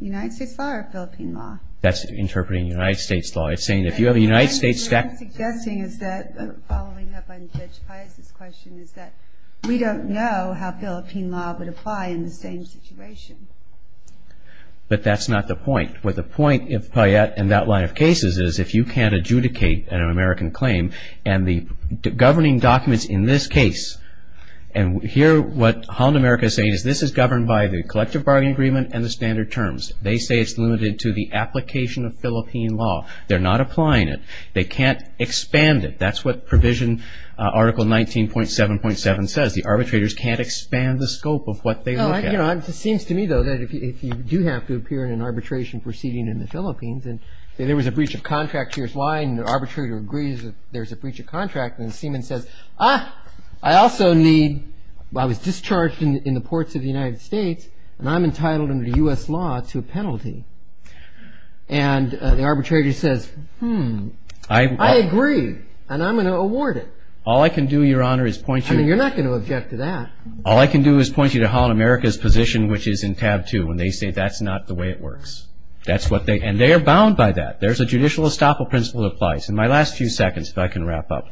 United States law or Philippine law? That's interpreting United States law. It's saying if you have a United States statute... What I'm suggesting is that, following up on Judge Paez's question, is that we don't know how Philippine law would apply in the same situation. But that's not the point. What the point in that line of cases is if you can't adjudicate an American claim, and the governing documents in this case, and here what Holland America is saying is this is governed by the collective bargaining agreement and the standard terms. They say it's limited to the application of Philippine law. They're not applying it. They can't expand it. That's what Provision Article 19.7.7 says. The arbitrators can't expand the scope of what they look at. It seems to me, though, that if you do have to appear in an arbitration proceeding in the Philippines, and there was a breach of contract, here's why, and the arbitrator agrees that there's a breach of contract, and the seaman says, ah, I also need, I was discharged in the ports of the United States, and I'm entitled under U.S. law to a penalty. And the arbitrator says, hmm, I agree, and I'm going to award it. All I can do, Your Honor, is point you to Holland America's position, which is in tab 2, when they say that's not the way it works. And they are bound by that. There's a judicial estoppel principle that applies. In my last few seconds, if I can wrap up,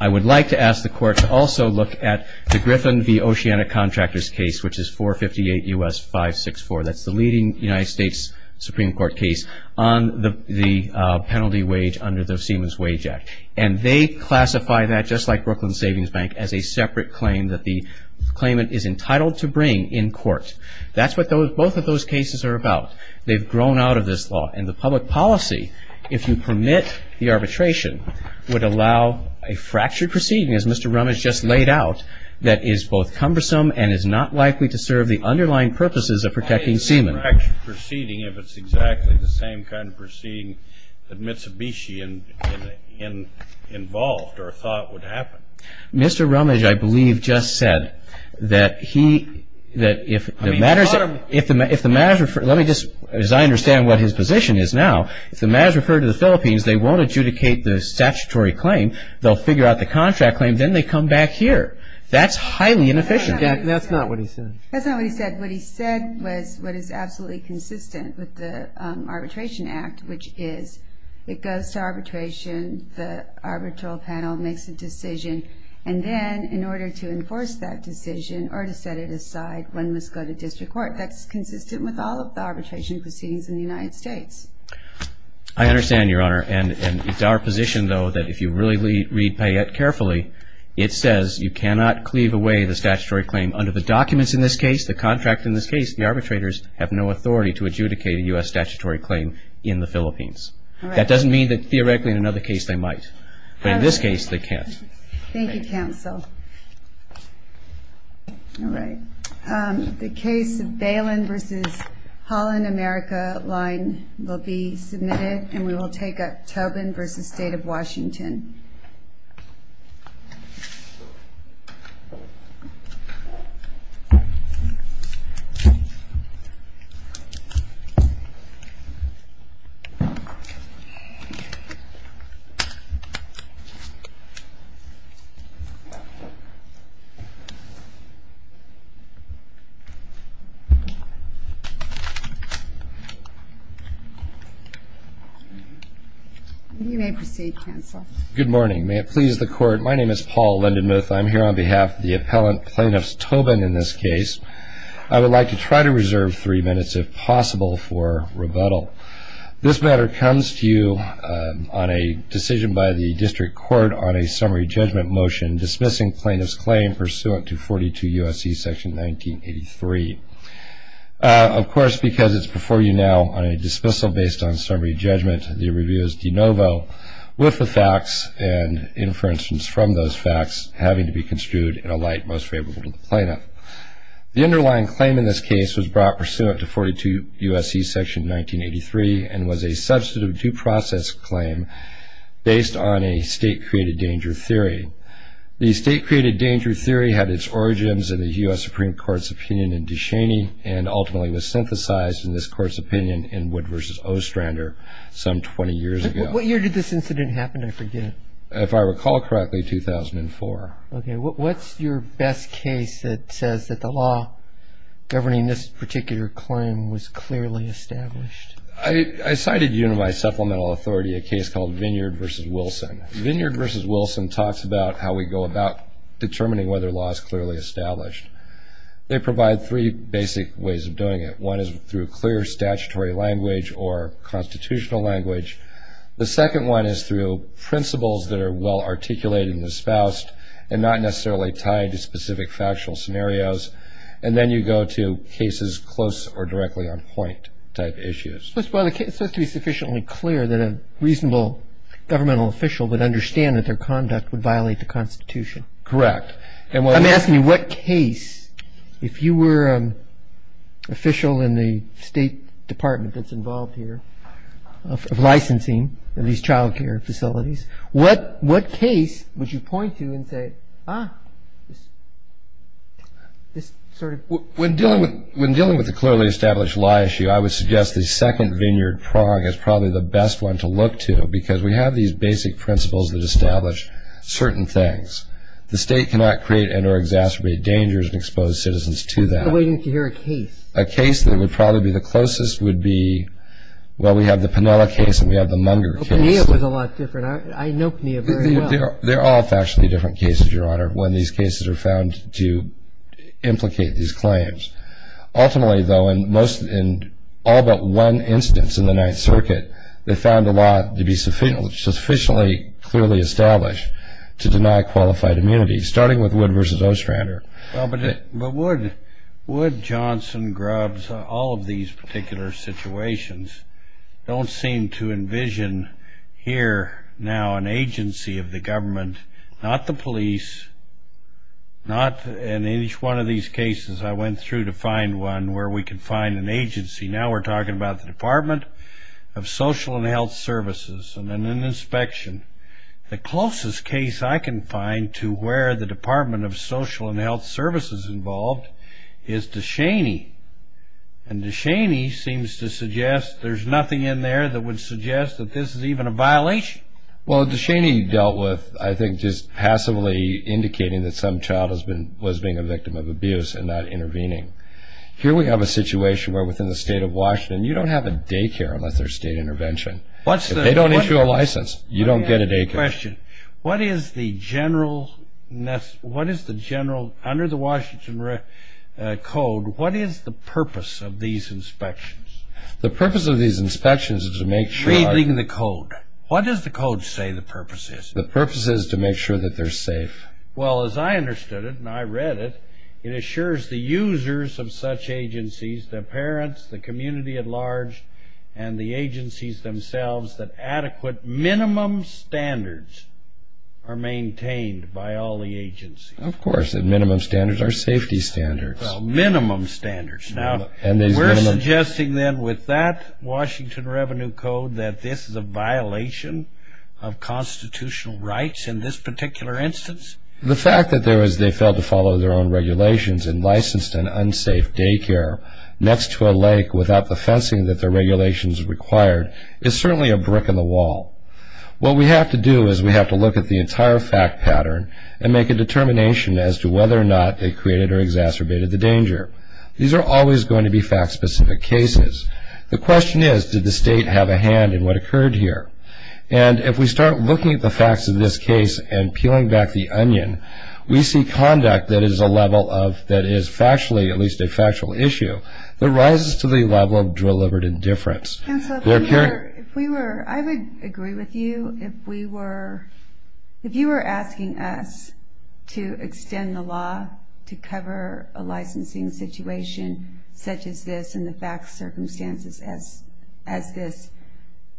I would like to ask the Court to also look at the Griffin v. Oceana Contractors case, which is 458 U.S. 564. That's the leading United States Supreme Court case on the penalty wage under the Seaman's Wage Act. And they classify that, just like Brooklyn Savings Bank, as a separate claim that the claimant is entitled to bring in court. That's what both of those cases are about. They've grown out of this law. And the public policy, if you permit the arbitration, would allow a fractured proceeding, as Mr. Rummage just laid out, that is both cumbersome and is not likely to serve the underlying purposes of protecting Seaman. Why a fractured proceeding if it's exactly the same kind of proceeding that Mitsubishi involved or thought would happen? Mr. Rummage, I believe, just said that he – that if the matter – let me just – as I understand what his position is now, if the matter is referred to the Philippines, they won't adjudicate the statutory claim, they'll figure out the contract claim, then they come back here. That's highly inefficient. That's not what he said. That's not what he said. What he said was what is absolutely consistent with the Arbitration Act, which is it goes to arbitration, the arbitral panel makes a decision, and then in order to enforce that decision or to set it aside, one must go to district court. That's consistent with all of the arbitration proceedings in the United States. I understand, Your Honor, and it's our position, though, that if you really read Payette carefully, it says you cannot cleave away the statutory claim under the documents in this case, the contract in this case. The arbitrators have no authority to adjudicate a U.S. statutory claim in the Philippines. That doesn't mean that theoretically in another case they might, but in this case they can't. Thank you, counsel. All right. The case of Balin v. Holland America line will be submitted, and we will take up Tobin v. State of Washington. You may proceed, counsel. Good morning. May it please the Court, my name is Paul Lindenmuth. I'm here on behalf of the appellant, Plaintiff's Tobin, in this case. I would like to try to reserve three minutes, if possible, for rebuttal. This matter comes to you on a decision by the District Court on a summary judgment motion dismissing plaintiff's claim pursuant to 42 U.S.C. section 1983. Of course, because it's before you now on a dismissal based on summary judgment, the review is de novo with the facts and inferences from those facts having to be construed in a light most favorable to the plaintiff. The underlying claim in this case was brought pursuant to 42 U.S.C. section 1983 and was a substantive due process claim based on a state-created danger theory. The state-created danger theory had its origins in the U.S. Supreme Court's opinion in DeShaney and ultimately was synthesized in this Court's opinion in Wood v. Ostrander some 20 years ago. What year did this incident happen, I forget? If I recall correctly, 2004. Okay. What's your best case that says that the law governing this particular claim was clearly established? I cited you to my supplemental authority a case called Vineyard v. Wilson. Vineyard v. Wilson talks about how we go about determining whether a law is clearly established. They provide three basic ways of doing it. One is through clear statutory language or constitutional language. The second one is through principles that are well articulated and espoused and not necessarily tied to specific factual scenarios. And then you go to cases close or directly on point type issues. It's supposed to be sufficiently clear that a reasonable governmental official would understand that their conduct would violate the Constitution. Correct. I'm asking you what case, if you were an official in the State Department that's involved here, of licensing of these child care facilities, what case would you point to and say, ah, this sort of thing? When dealing with a clearly established lie issue, I would suggest the second Vineyard prong is probably the best one to look to because we have these basic principles that establish certain things. The State cannot create and or exacerbate dangers and expose citizens to that. What if you hear a case? A case that would probably be the closest would be, well, we have the Pinella case and we have the Munger case. O'Connell was a lot different. I know O'Connell very well. They're all factually different cases, Your Honor, when these cases are found to implicate these claims. Ultimately, though, in all but one instance in the Ninth Circuit, they found the law to be sufficiently clearly established to deny qualified immunity, starting with Wood v. Ostrander. But Wood, Johnson, Grubbs, all of these particular situations don't seem to envision here now an agency of the government, not the police, not in each one of these cases. I went through to find one where we could find an agency. Now we're talking about the Department of Social and Health Services and an inspection. The closest case I can find to where the Department of Social and Health Services is involved is DeShaney. And DeShaney seems to suggest there's nothing in there that would suggest that this is even a violation. Well, DeShaney dealt with, I think, just passively indicating that some child was being a victim of abuse and not intervening. Here we have a situation where within the State of Washington you don't have a daycare unless there's state intervention. If they don't issue a license, you don't get a daycare. I have a question. What is the general, under the Washington Code, what is the purpose of these inspections? The purpose of these inspections is to make sure I... Read the code. What does the code say the purpose is? The purpose is to make sure that they're safe. Well, as I understood it and I read it, it assures the users of such agencies, the parents, the community at large, and the agencies themselves, that adequate minimum standards are maintained by all the agencies. Of course, the minimum standards are safety standards. Well, minimum standards. Now, we're suggesting then with that Washington Revenue Code that this is a violation of constitutional rights in this particular instance? The fact that they failed to follow their own regulations and licensed an unsafe daycare next to a lake without the fencing that the regulations required is certainly a brick in the wall. What we have to do is we have to look at the entire fact pattern and make a determination as to whether or not they created or exacerbated the danger. These are always going to be fact-specific cases. The question is, did the state have a hand in what occurred here? And if we start looking at the facts of this case and peeling back the onion, we see conduct that is a level of, that is factually, at least a factual issue, that rises to the level of deliberate indifference. Counselor, if we were, I would agree with you. If we were, if you were asking us to extend the law to cover a licensing situation such as this and the fact circumstances as this,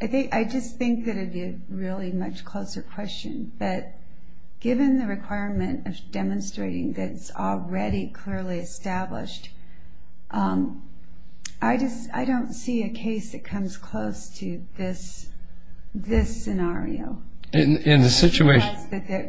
I just think that it would be a really much closer question. But given the requirement of demonstrating that's already clearly established, I just, I don't see a case that comes close to this scenario. In the situation?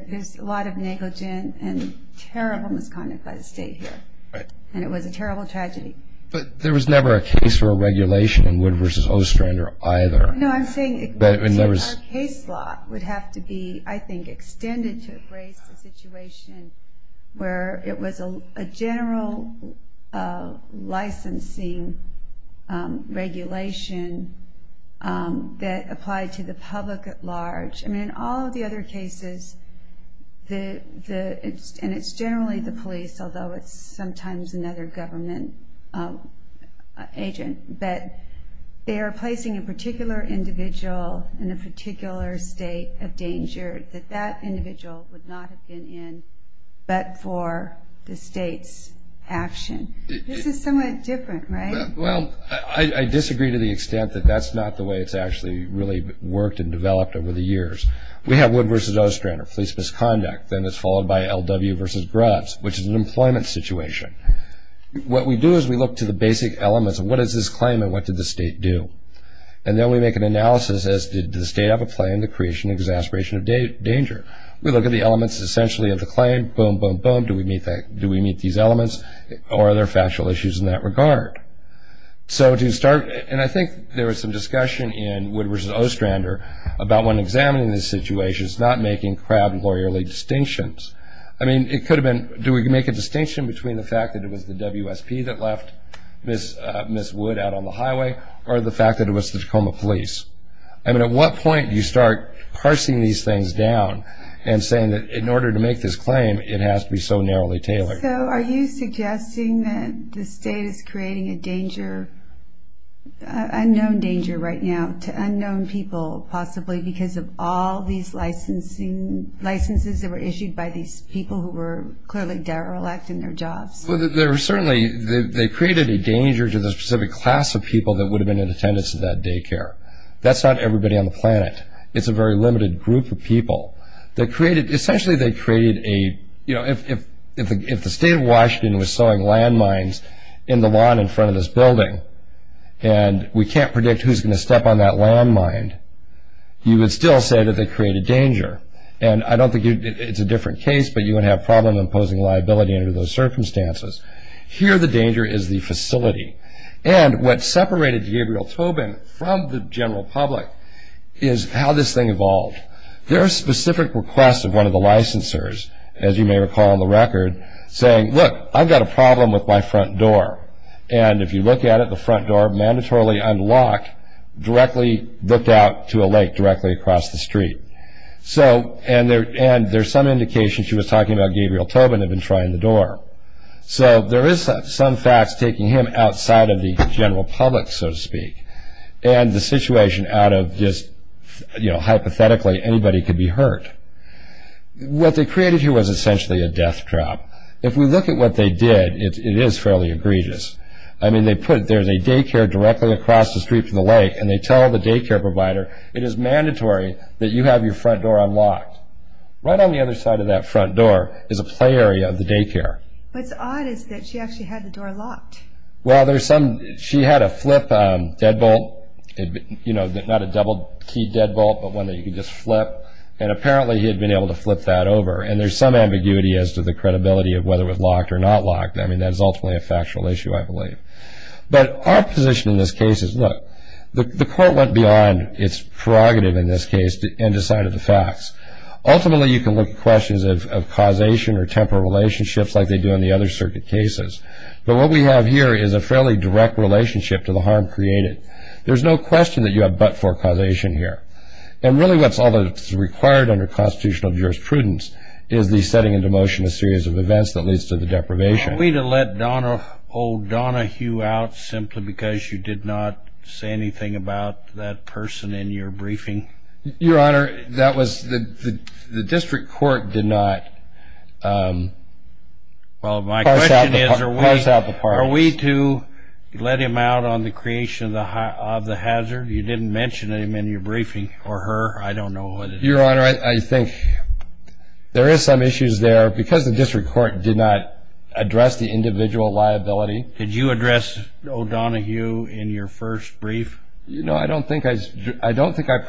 There's a lot of negligent and terrible misconduct by the state here. Right. And it was a terrible tragedy. But there was never a case for a regulation in Wood v. Ostrander either. No, I'm saying a case law would have to be, I think, extended to embrace a situation where it was a general licensing regulation that applied to the public at large. I mean, in all of the other cases, and it's generally the police, although it's sometimes another government agent, that they are placing a particular individual in a particular state of danger that that individual would not have been in but for the state's action. This is somewhat different, right? Well, I disagree to the extent that that's not the way it's actually really worked and developed over the years. We have Wood v. Ostrander, police misconduct, then it's followed by L.W. v. Grubbs, which is an employment situation. What we do is we look to the basic elements of what is this claim and what did the state do. And then we make an analysis as did the state have a play in the creation and exasperation of danger. We look at the elements essentially of the claim, boom, boom, boom, do we meet these elements or are there factual issues in that regard? So to start, and I think there was some discussion in Wood v. Ostrander about when examining this situation, it's not making crowd lawyerly distinctions. I mean, it could have been, do we make a distinction between the fact that it was the WSP that left Ms. Wood out on the highway or the fact that it was the Tacoma police? I mean, at what point do you start parsing these things down and saying that in order to make this claim, it has to be so narrowly tailored? So are you suggesting that the state is creating a danger, unknown danger right now to unknown people possibly because of all these licenses that were issued by these people who were clearly derelict in their jobs? Well, they were certainly, they created a danger to the specific class of people that would have been in attendance at that daycare. That's not everybody on the planet. It's a very limited group of people. They created, essentially they created a, you know, if the state of Washington was sowing landmines in the lawn in front of this building and we can't predict who's going to step on that landmine, you would still say that they created danger. And I don't think it's a different case, but you would have a problem imposing liability under those circumstances. Here the danger is the facility. And what separated Gabriel Tobin from the general public is how this thing evolved. There are specific requests of one of the licensors, as you may recall on the record, saying, look, I've got a problem with my front door. And if you look at it, the front door, mandatorily unlocked, directly looked out to a lake directly across the street. So, and there's some indication she was talking about Gabriel Tobin had been trying the door. So there is some facts taking him outside of the general public, so to speak. And the situation out of just, you know, hypothetically anybody could be hurt. What they created here was essentially a death trap. If we look at what they did, it is fairly egregious. I mean, they put, there's a daycare directly across the street from the lake, and they tell the daycare provider, it is mandatory that you have your front door unlocked. Right on the other side of that front door is a play area of the daycare. What's odd is that she actually had the door locked. Well, there's some, she had a flip deadbolt, you know, not a double key deadbolt, but one that you could just flip. And apparently he had been able to flip that over. And there's some ambiguity as to the credibility of whether it was locked or not locked. I mean, that is ultimately a factual issue, I believe. But our position in this case is, look, the court went beyond its prerogative in this case and decided the facts. Ultimately, you can look at questions of causation or temporal relationships like they do in the other circuit cases. But what we have here is a fairly direct relationship to the harm created. There's no question that you have but-for causation here. And really what's required under constitutional jurisprudence is the setting into motion a series of events that leads to the deprivation. Are we to let old Donna Hugh out simply because you did not say anything about that person in your briefing? Your Honor, that was, the district court did not parse out the part. Well, my question is- Parse out the part. Are we to let him out on the creation of the hazard? You didn't mention him in your briefing, or her. I don't know what it is. Your Honor, I think there is some issues there. Because the district court did not address the individual liability- Did you address old Donna Hugh in your first brief? No, I don't think I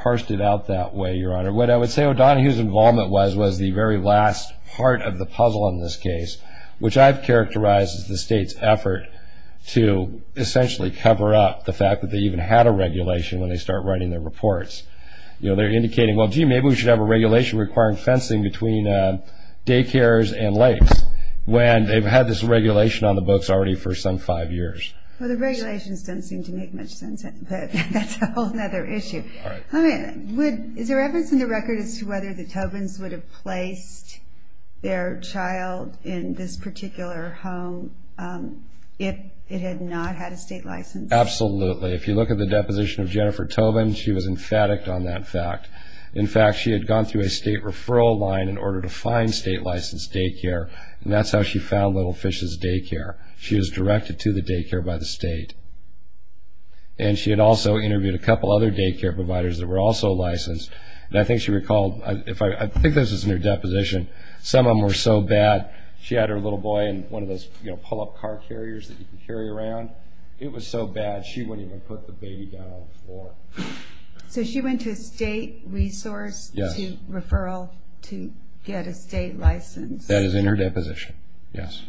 parsed it out that way, Your Honor. What I would say, old Donna Hugh's involvement was the very last part of the puzzle in this case, which I've characterized as the state's effort to essentially cover up the fact that they even had a regulation when they start writing their reports. They're indicating, well, gee, maybe we should have a regulation requiring fencing between daycares and lakes, when they've had this regulation on the books already for some five years. Well, the regulations don't seem to make much sense, but that's a whole other issue. Is there evidence in the record as to whether the Tobins would have placed their child in this particular home if it had not had a state license? Absolutely. If you look at the deposition of Jennifer Tobin, she was emphatic on that fact. In fact, she had gone through a state referral line in order to find state-licensed daycare, and that's how she found Little Fish's Daycare. She was directed to the daycare by the state. And she had also interviewed a couple other daycare providers that were also licensed. And I think she recalled, I think this was in her deposition, some of them were so bad, she had her little boy in one of those pull-up car carriers that you can carry around. It was so bad, she wouldn't even put the baby down on the floor. So she went to a state resource to referral to get a state license? That is in her deposition, yes.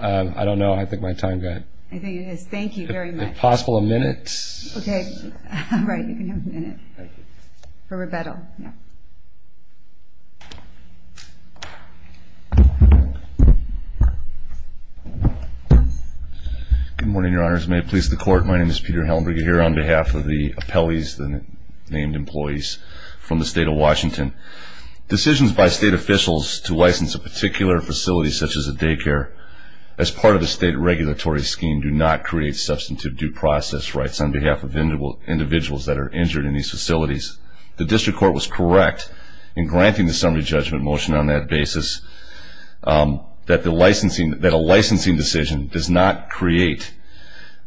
I don't know. I think my time's up. I think it is. Thank you very much. If possible, a minute. Okay. Right, you can have a minute for rebuttal. Good morning, Your Honors. May it please the Court, my name is Peter Hellenberg. I'm here on behalf of the appellees, the named employees from the State of Washington. Decisions by state officials to license a particular facility such as a daycare as part of the state regulatory scheme do not create substantive due process rights on behalf of individuals that are injured in these facilities. The district court was correct in granting the summary judgment motion on that basis that a licensing decision does not create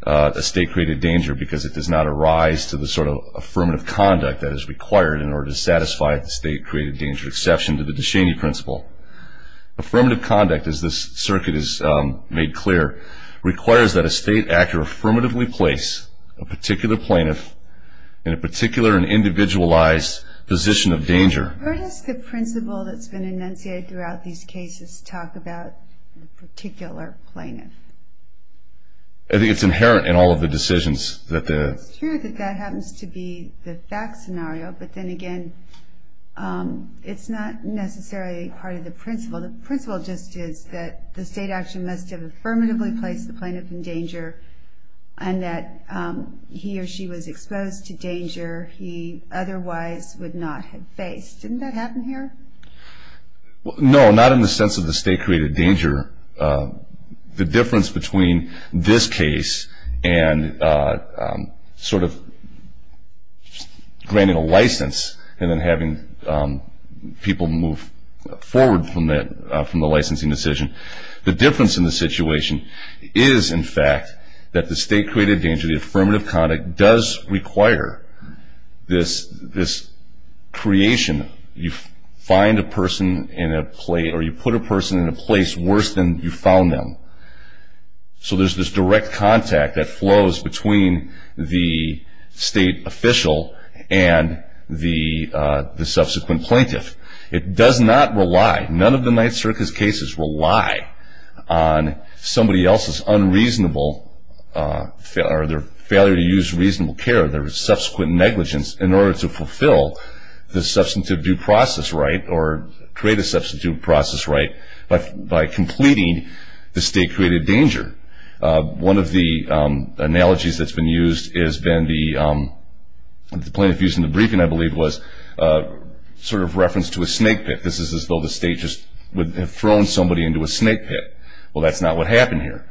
a state-created danger because it does not arise to the sort of affirmative conduct that is required in order to satisfy the state-created danger exception to the Deshaney Principle. Affirmative conduct, as this circuit has made clear, requires that a state actor affirmatively place a particular plaintiff in a particular and individualized position of danger. Where does the principle that's been enunciated throughout these cases talk about a particular plaintiff? I think it's inherent in all of the decisions. It's true that that happens to be the fact scenario, but then again, it's not necessarily part of the principle. The principle just is that the state action must have affirmatively placed the plaintiff in danger and that he or she was exposed to danger he otherwise would not have faced. Didn't that happen here? No, not in the sense of the state-created danger. The difference between this case and sort of granting a license and then having people move forward from the licensing decision, the difference in the situation is, in fact, that the state-created danger, the affirmative conduct does require this creation. You find a person in a place or you put a person in a place worse than you found them. So there's this direct contact that flows between the state official and the subsequent plaintiff. It does not rely, none of the Ninth Circus cases rely on somebody else's unreasonable or their failure to use reasonable care, their subsequent negligence, in order to fulfill the substantive due process right or create a substantive due process right by completing the state-created danger. One of the analogies that's been used has been the plaintiff used in the briefing, I believe, was sort of referenced to a snake pit. This is as though the state just would have thrown somebody into a snake pit. Well, that's not what happened here.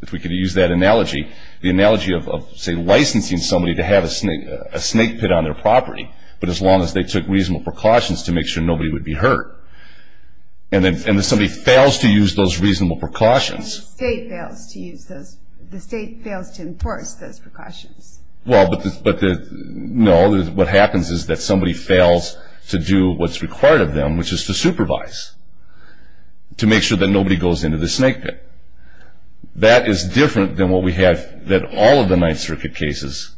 If we could use that analogy, the analogy of, say, licensing somebody to have a snake pit on their property, but as long as they took reasonable precautions to make sure nobody would be hurt. And if somebody fails to use those reasonable precautions... The state fails to enforce those precautions. Well, but no, what happens is that somebody fails to do what's required of them, which is to supervise, to make sure that nobody goes into the snake pit. That is different than what we have in all of the Ninth Circuit cases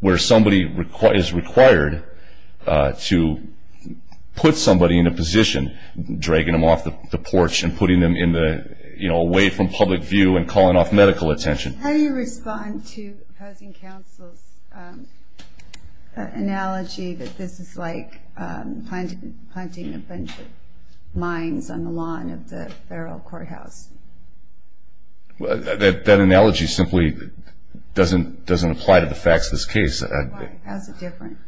where somebody is required to put somebody in a position, dragging them off the porch and putting them away from public view and calling off medical attention. How do you respond to opposing counsel's analogy that this is like planting a bunch of mines on the lawn of the federal courthouse? That analogy simply doesn't apply to the facts of this case. Why? How is it different?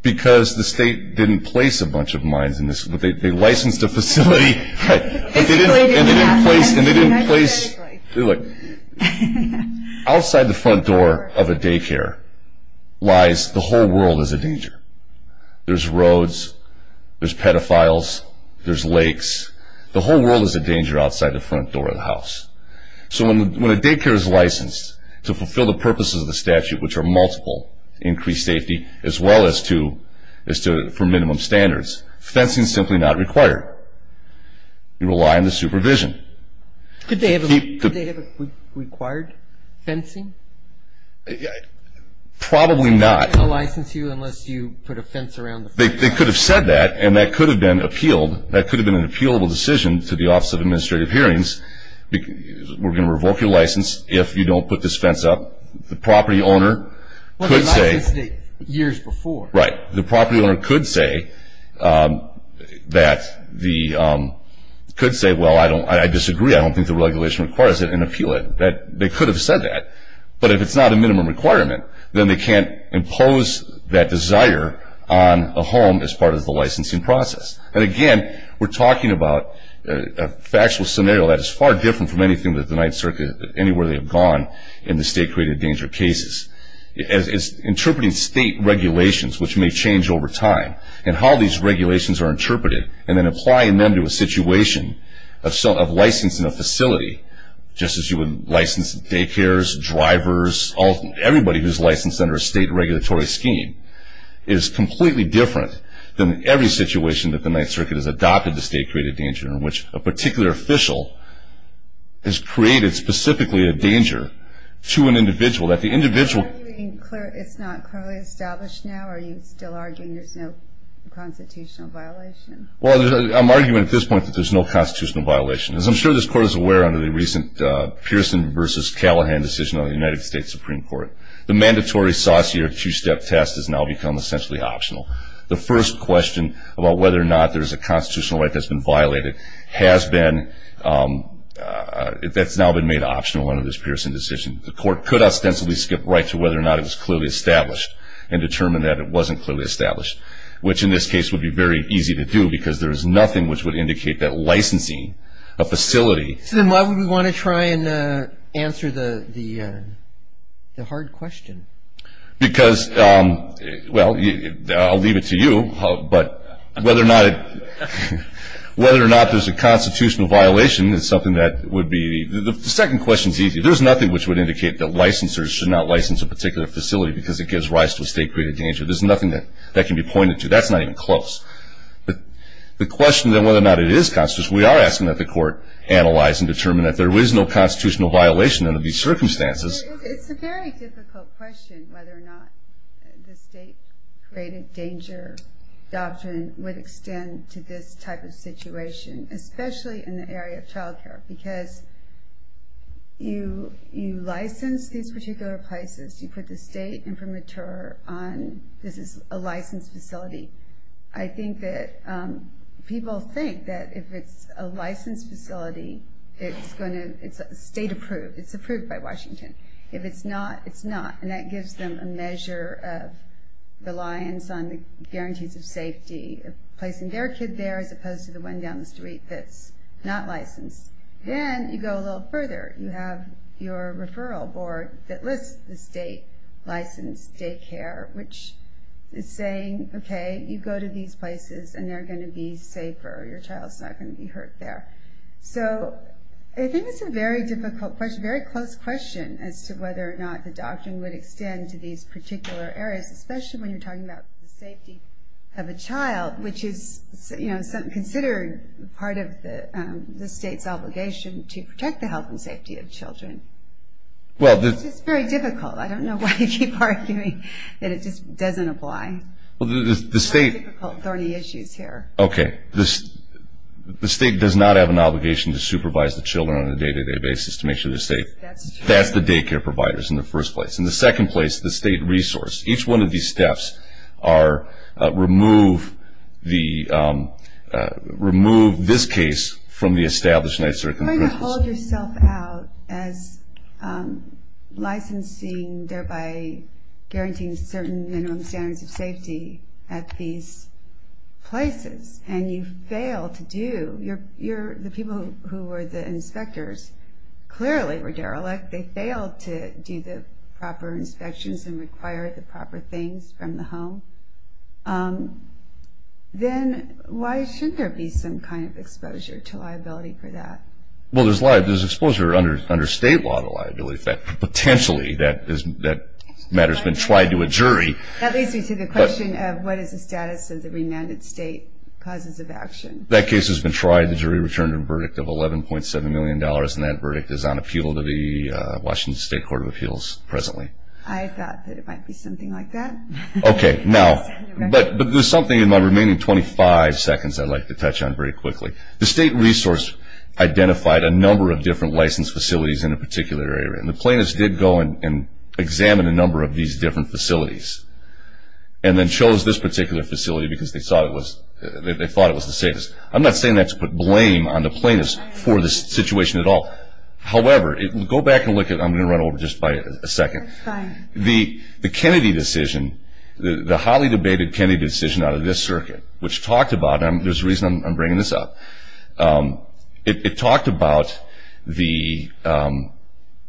Because the state didn't place a bunch of mines in this. They licensed a facility, but they didn't place... Outside the front door of a daycare lies the whole world as a danger. There's roads, there's pedophiles, there's lakes. The whole world is a danger outside the front door of the house. So when a daycare is licensed to fulfill the purposes of the statute, which are multiple, increased safety, as well as for minimum standards, fencing is simply not required. You rely on the supervision. Could they have required fencing? Probably not. They wouldn't license you unless you put a fence around the front door. They could have said that, and that could have been an appealable decision to the Office of Administrative Hearings. We're going to revoke your license if you don't put this fence up. The property owner could say... Well, they licensed it years before. Right. The property owner could say that the... Could say, well, I disagree. I don't think the regulation requires an appeal. They could have said that. But if it's not a minimum requirement, then they can't impose that desire on a home as part of the licensing process. And, again, we're talking about a factual scenario that is far different from anything that the Ninth Circuit, anywhere they've gone in the state-created danger cases. It's interpreting state regulations, which may change over time, and how these regulations are interpreted and then applying them to a situation of licensing a facility, just as you would license daycares, drivers, everybody who's licensed under a state regulatory scheme, is completely different than every situation that the Ninth Circuit has adopted the state-created danger in which a particular official has created specifically a danger to an individual that the individual... Are you arguing it's not clearly established now? Are you still arguing there's no constitutional violation? Well, I'm arguing at this point that there's no constitutional violation. As I'm sure this Court is aware, under the recent Pearson v. Callahan decision on the United States Supreme Court, the mandatory saucier two-step test has now become essentially optional. The first question about whether or not there's a constitutional right that's been violated has been...that's now been made optional under this Pearson decision. The Court could ostensibly skip right to whether or not it was clearly established and determine that it wasn't clearly established, which in this case would be very easy to do because there is nothing which would indicate that licensing a facility... So then why would we want to try and answer the hard question? Because, well, I'll leave it to you, but whether or not there's a constitutional violation is something that would be... The second question is easy. There's nothing which would indicate that licensors should not license a particular facility because it gives rise to a state-created danger. There's nothing that can be pointed to. That's not even close. But the question then whether or not it is constitutional, we are asking that the Court analyze and determine that there is no constitutional violation under these circumstances. It's a very difficult question whether or not the state-created danger doctrine would extend to this type of situation, especially in the area of child care, because you license these particular places. You put the state infirmature on this is a licensed facility. I think that people think that if it's a licensed facility, it's state-approved. It's approved by Washington. If it's not, it's not, and that gives them a measure of reliance on the guarantees of safety of placing their kid there as opposed to the one down the street that's not licensed. Then you go a little further. You have your referral board that lists the state-licensed daycare, which is saying, okay, you go to these places and they're going to be safer. Your child's not going to be hurt there. So I think it's a very difficult question, a very close question as to whether or not the doctrine would extend to these particular areas, especially when you're talking about the safety of a child, which is considered part of the state's obligation to protect the health and safety of children. It's just very difficult. I don't know why you keep arguing that it just doesn't apply. There's a lot of difficult, thorny issues here. Okay. The state does not have an obligation to supervise the children on a day-to-day basis to make sure they're safe. That's the daycare providers in the first place. In the second place, the state resource. Each one of these steps remove this case from the established night circumstances. You're going to hold yourself out as licensing, thereby guaranteeing certain minimum standards of safety at these places, and you fail to do. The people who were the inspectors clearly were derelict. They failed to do the proper inspections and require the proper things from the home. Then why shouldn't there be some kind of exposure to liability for that? Well, there's exposure under state law to liability. Potentially that matter has been tried to a jury. That leads me to the question of what is the status of the remanded state causes of action? That case has been tried. The jury returned a verdict of $11.7 million, and that verdict is on appeal to the Washington State Court of Appeals presently. I thought that it might be something like that. Okay. Now, but there's something in my remaining 25 seconds I'd like to touch on very quickly. The state resource identified a number of different licensed facilities in a particular area, and the plaintiffs did go and examine a number of these different facilities and then chose this particular facility because they thought it was the safest. I'm not saying that's put blame on the plaintiffs for this situation at all. However, go back and look at it. I'm going to run over just by a second. The Kennedy decision, the highly debated Kennedy decision out of this circuit, which talked about, and there's a reason I'm bringing this up, it talked about the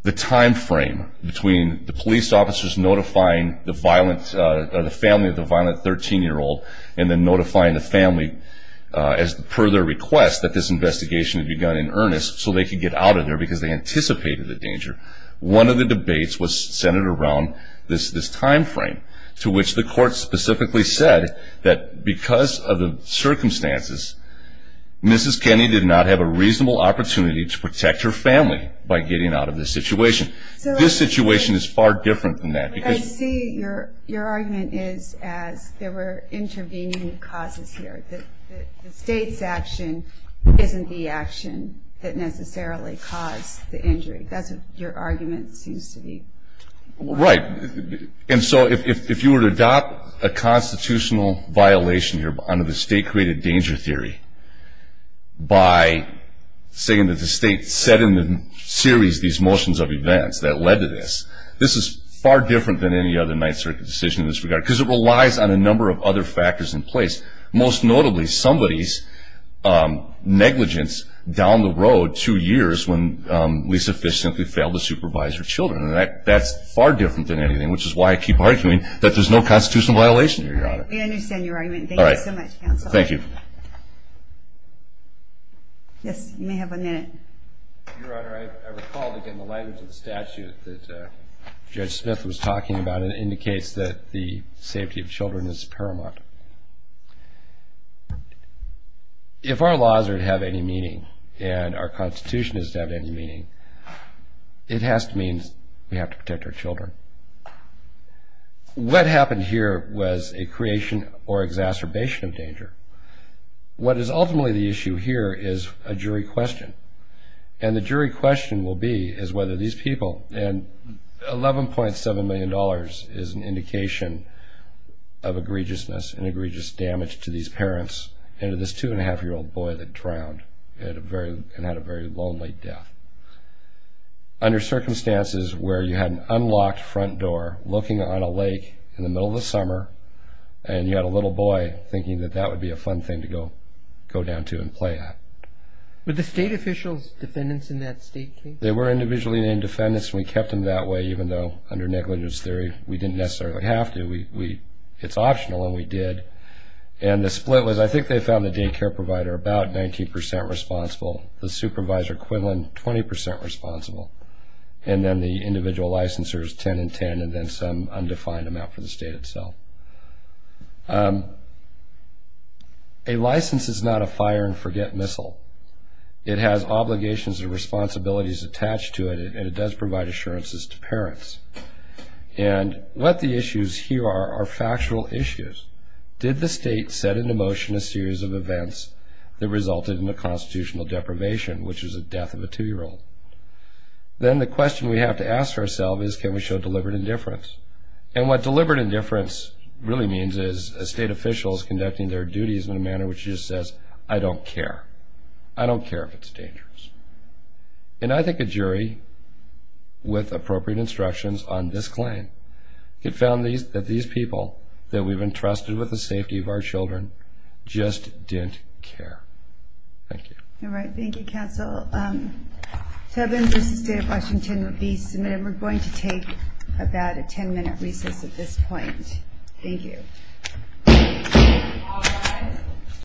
timeframe between the police officers notifying the family of the violent 13-year-old and then notifying the family as per their request that this investigation had begun in earnest so they could get out of there because they anticipated the danger. One of the debates was centered around this timeframe to which the court specifically said that because of the circumstances, Mrs. Kennedy did not have a reasonable opportunity to protect her family by getting out of this situation. This situation is far different than that. I see your argument is as there were intervening causes here. The state's action isn't the action that necessarily caused the injury. That's what your argument seems to be. Right. And so if you were to adopt a constitutional violation here under the state-created danger theory by saying that the state set in series these motions of events that led to this, this is far different than any other Ninth Circuit decision in this regard because it relies on a number of other factors in place, most notably somebody's negligence down the road two years when Lisa Fish simply failed to supervise her children. And that's far different than anything, which is why I keep arguing that there's no constitutional violation here, Your Honor. We understand your argument. Thank you so much, counsel. Thank you. Yes, you may have a minute. Your Honor, I recall again the language of the statute that Judge Smith was talking about and it indicates that the safety of children is paramount. If our laws are to have any meaning and our Constitution is to have any meaning, it has to mean we have to protect our children. What happened here was a creation or exacerbation of danger. What is ultimately the issue here is a jury question, and the jury question will be is whether these people, and $11.7 million is an indication of egregiousness and egregious damage to these parents and to this two-and-a-half-year-old boy that drowned and had a very lonely death. Under circumstances where you had an unlocked front door looking on a lake in the middle of the summer and you had a little boy thinking that that would be a fun thing to go down to and play at. Were the state officials defendants in that state case? They were individually named defendants. We kept them that way even though under negligence theory we didn't necessarily have to. It's optional and we did. And the split was I think they found the daycare provider about 19% responsible, the supervisor equivalent 20% responsible, and then the individual licensors 10 and 10 and then some undefined amount for the state itself. A license is not a fire-and-forget missile. It has obligations and responsibilities attached to it, and it does provide assurances to parents. And what the issues here are are factual issues. Did the state set into motion a series of events that resulted in a constitutional deprivation, which is the death of a 2-year-old? Then the question we have to ask ourselves is can we show deliberate indifference? And what deliberate indifference really means is a state official is conducting their duties in a manner which just says, I don't care. I don't care if it's dangerous. And I think a jury with appropriate instructions on this claim could found that these people that we've entrusted with the safety of our children just didn't care. Thank you. All right. Thank you, counsel. To have this state of Washington be submitted, we're going to take about a 10-minute recess at this point. Thank you.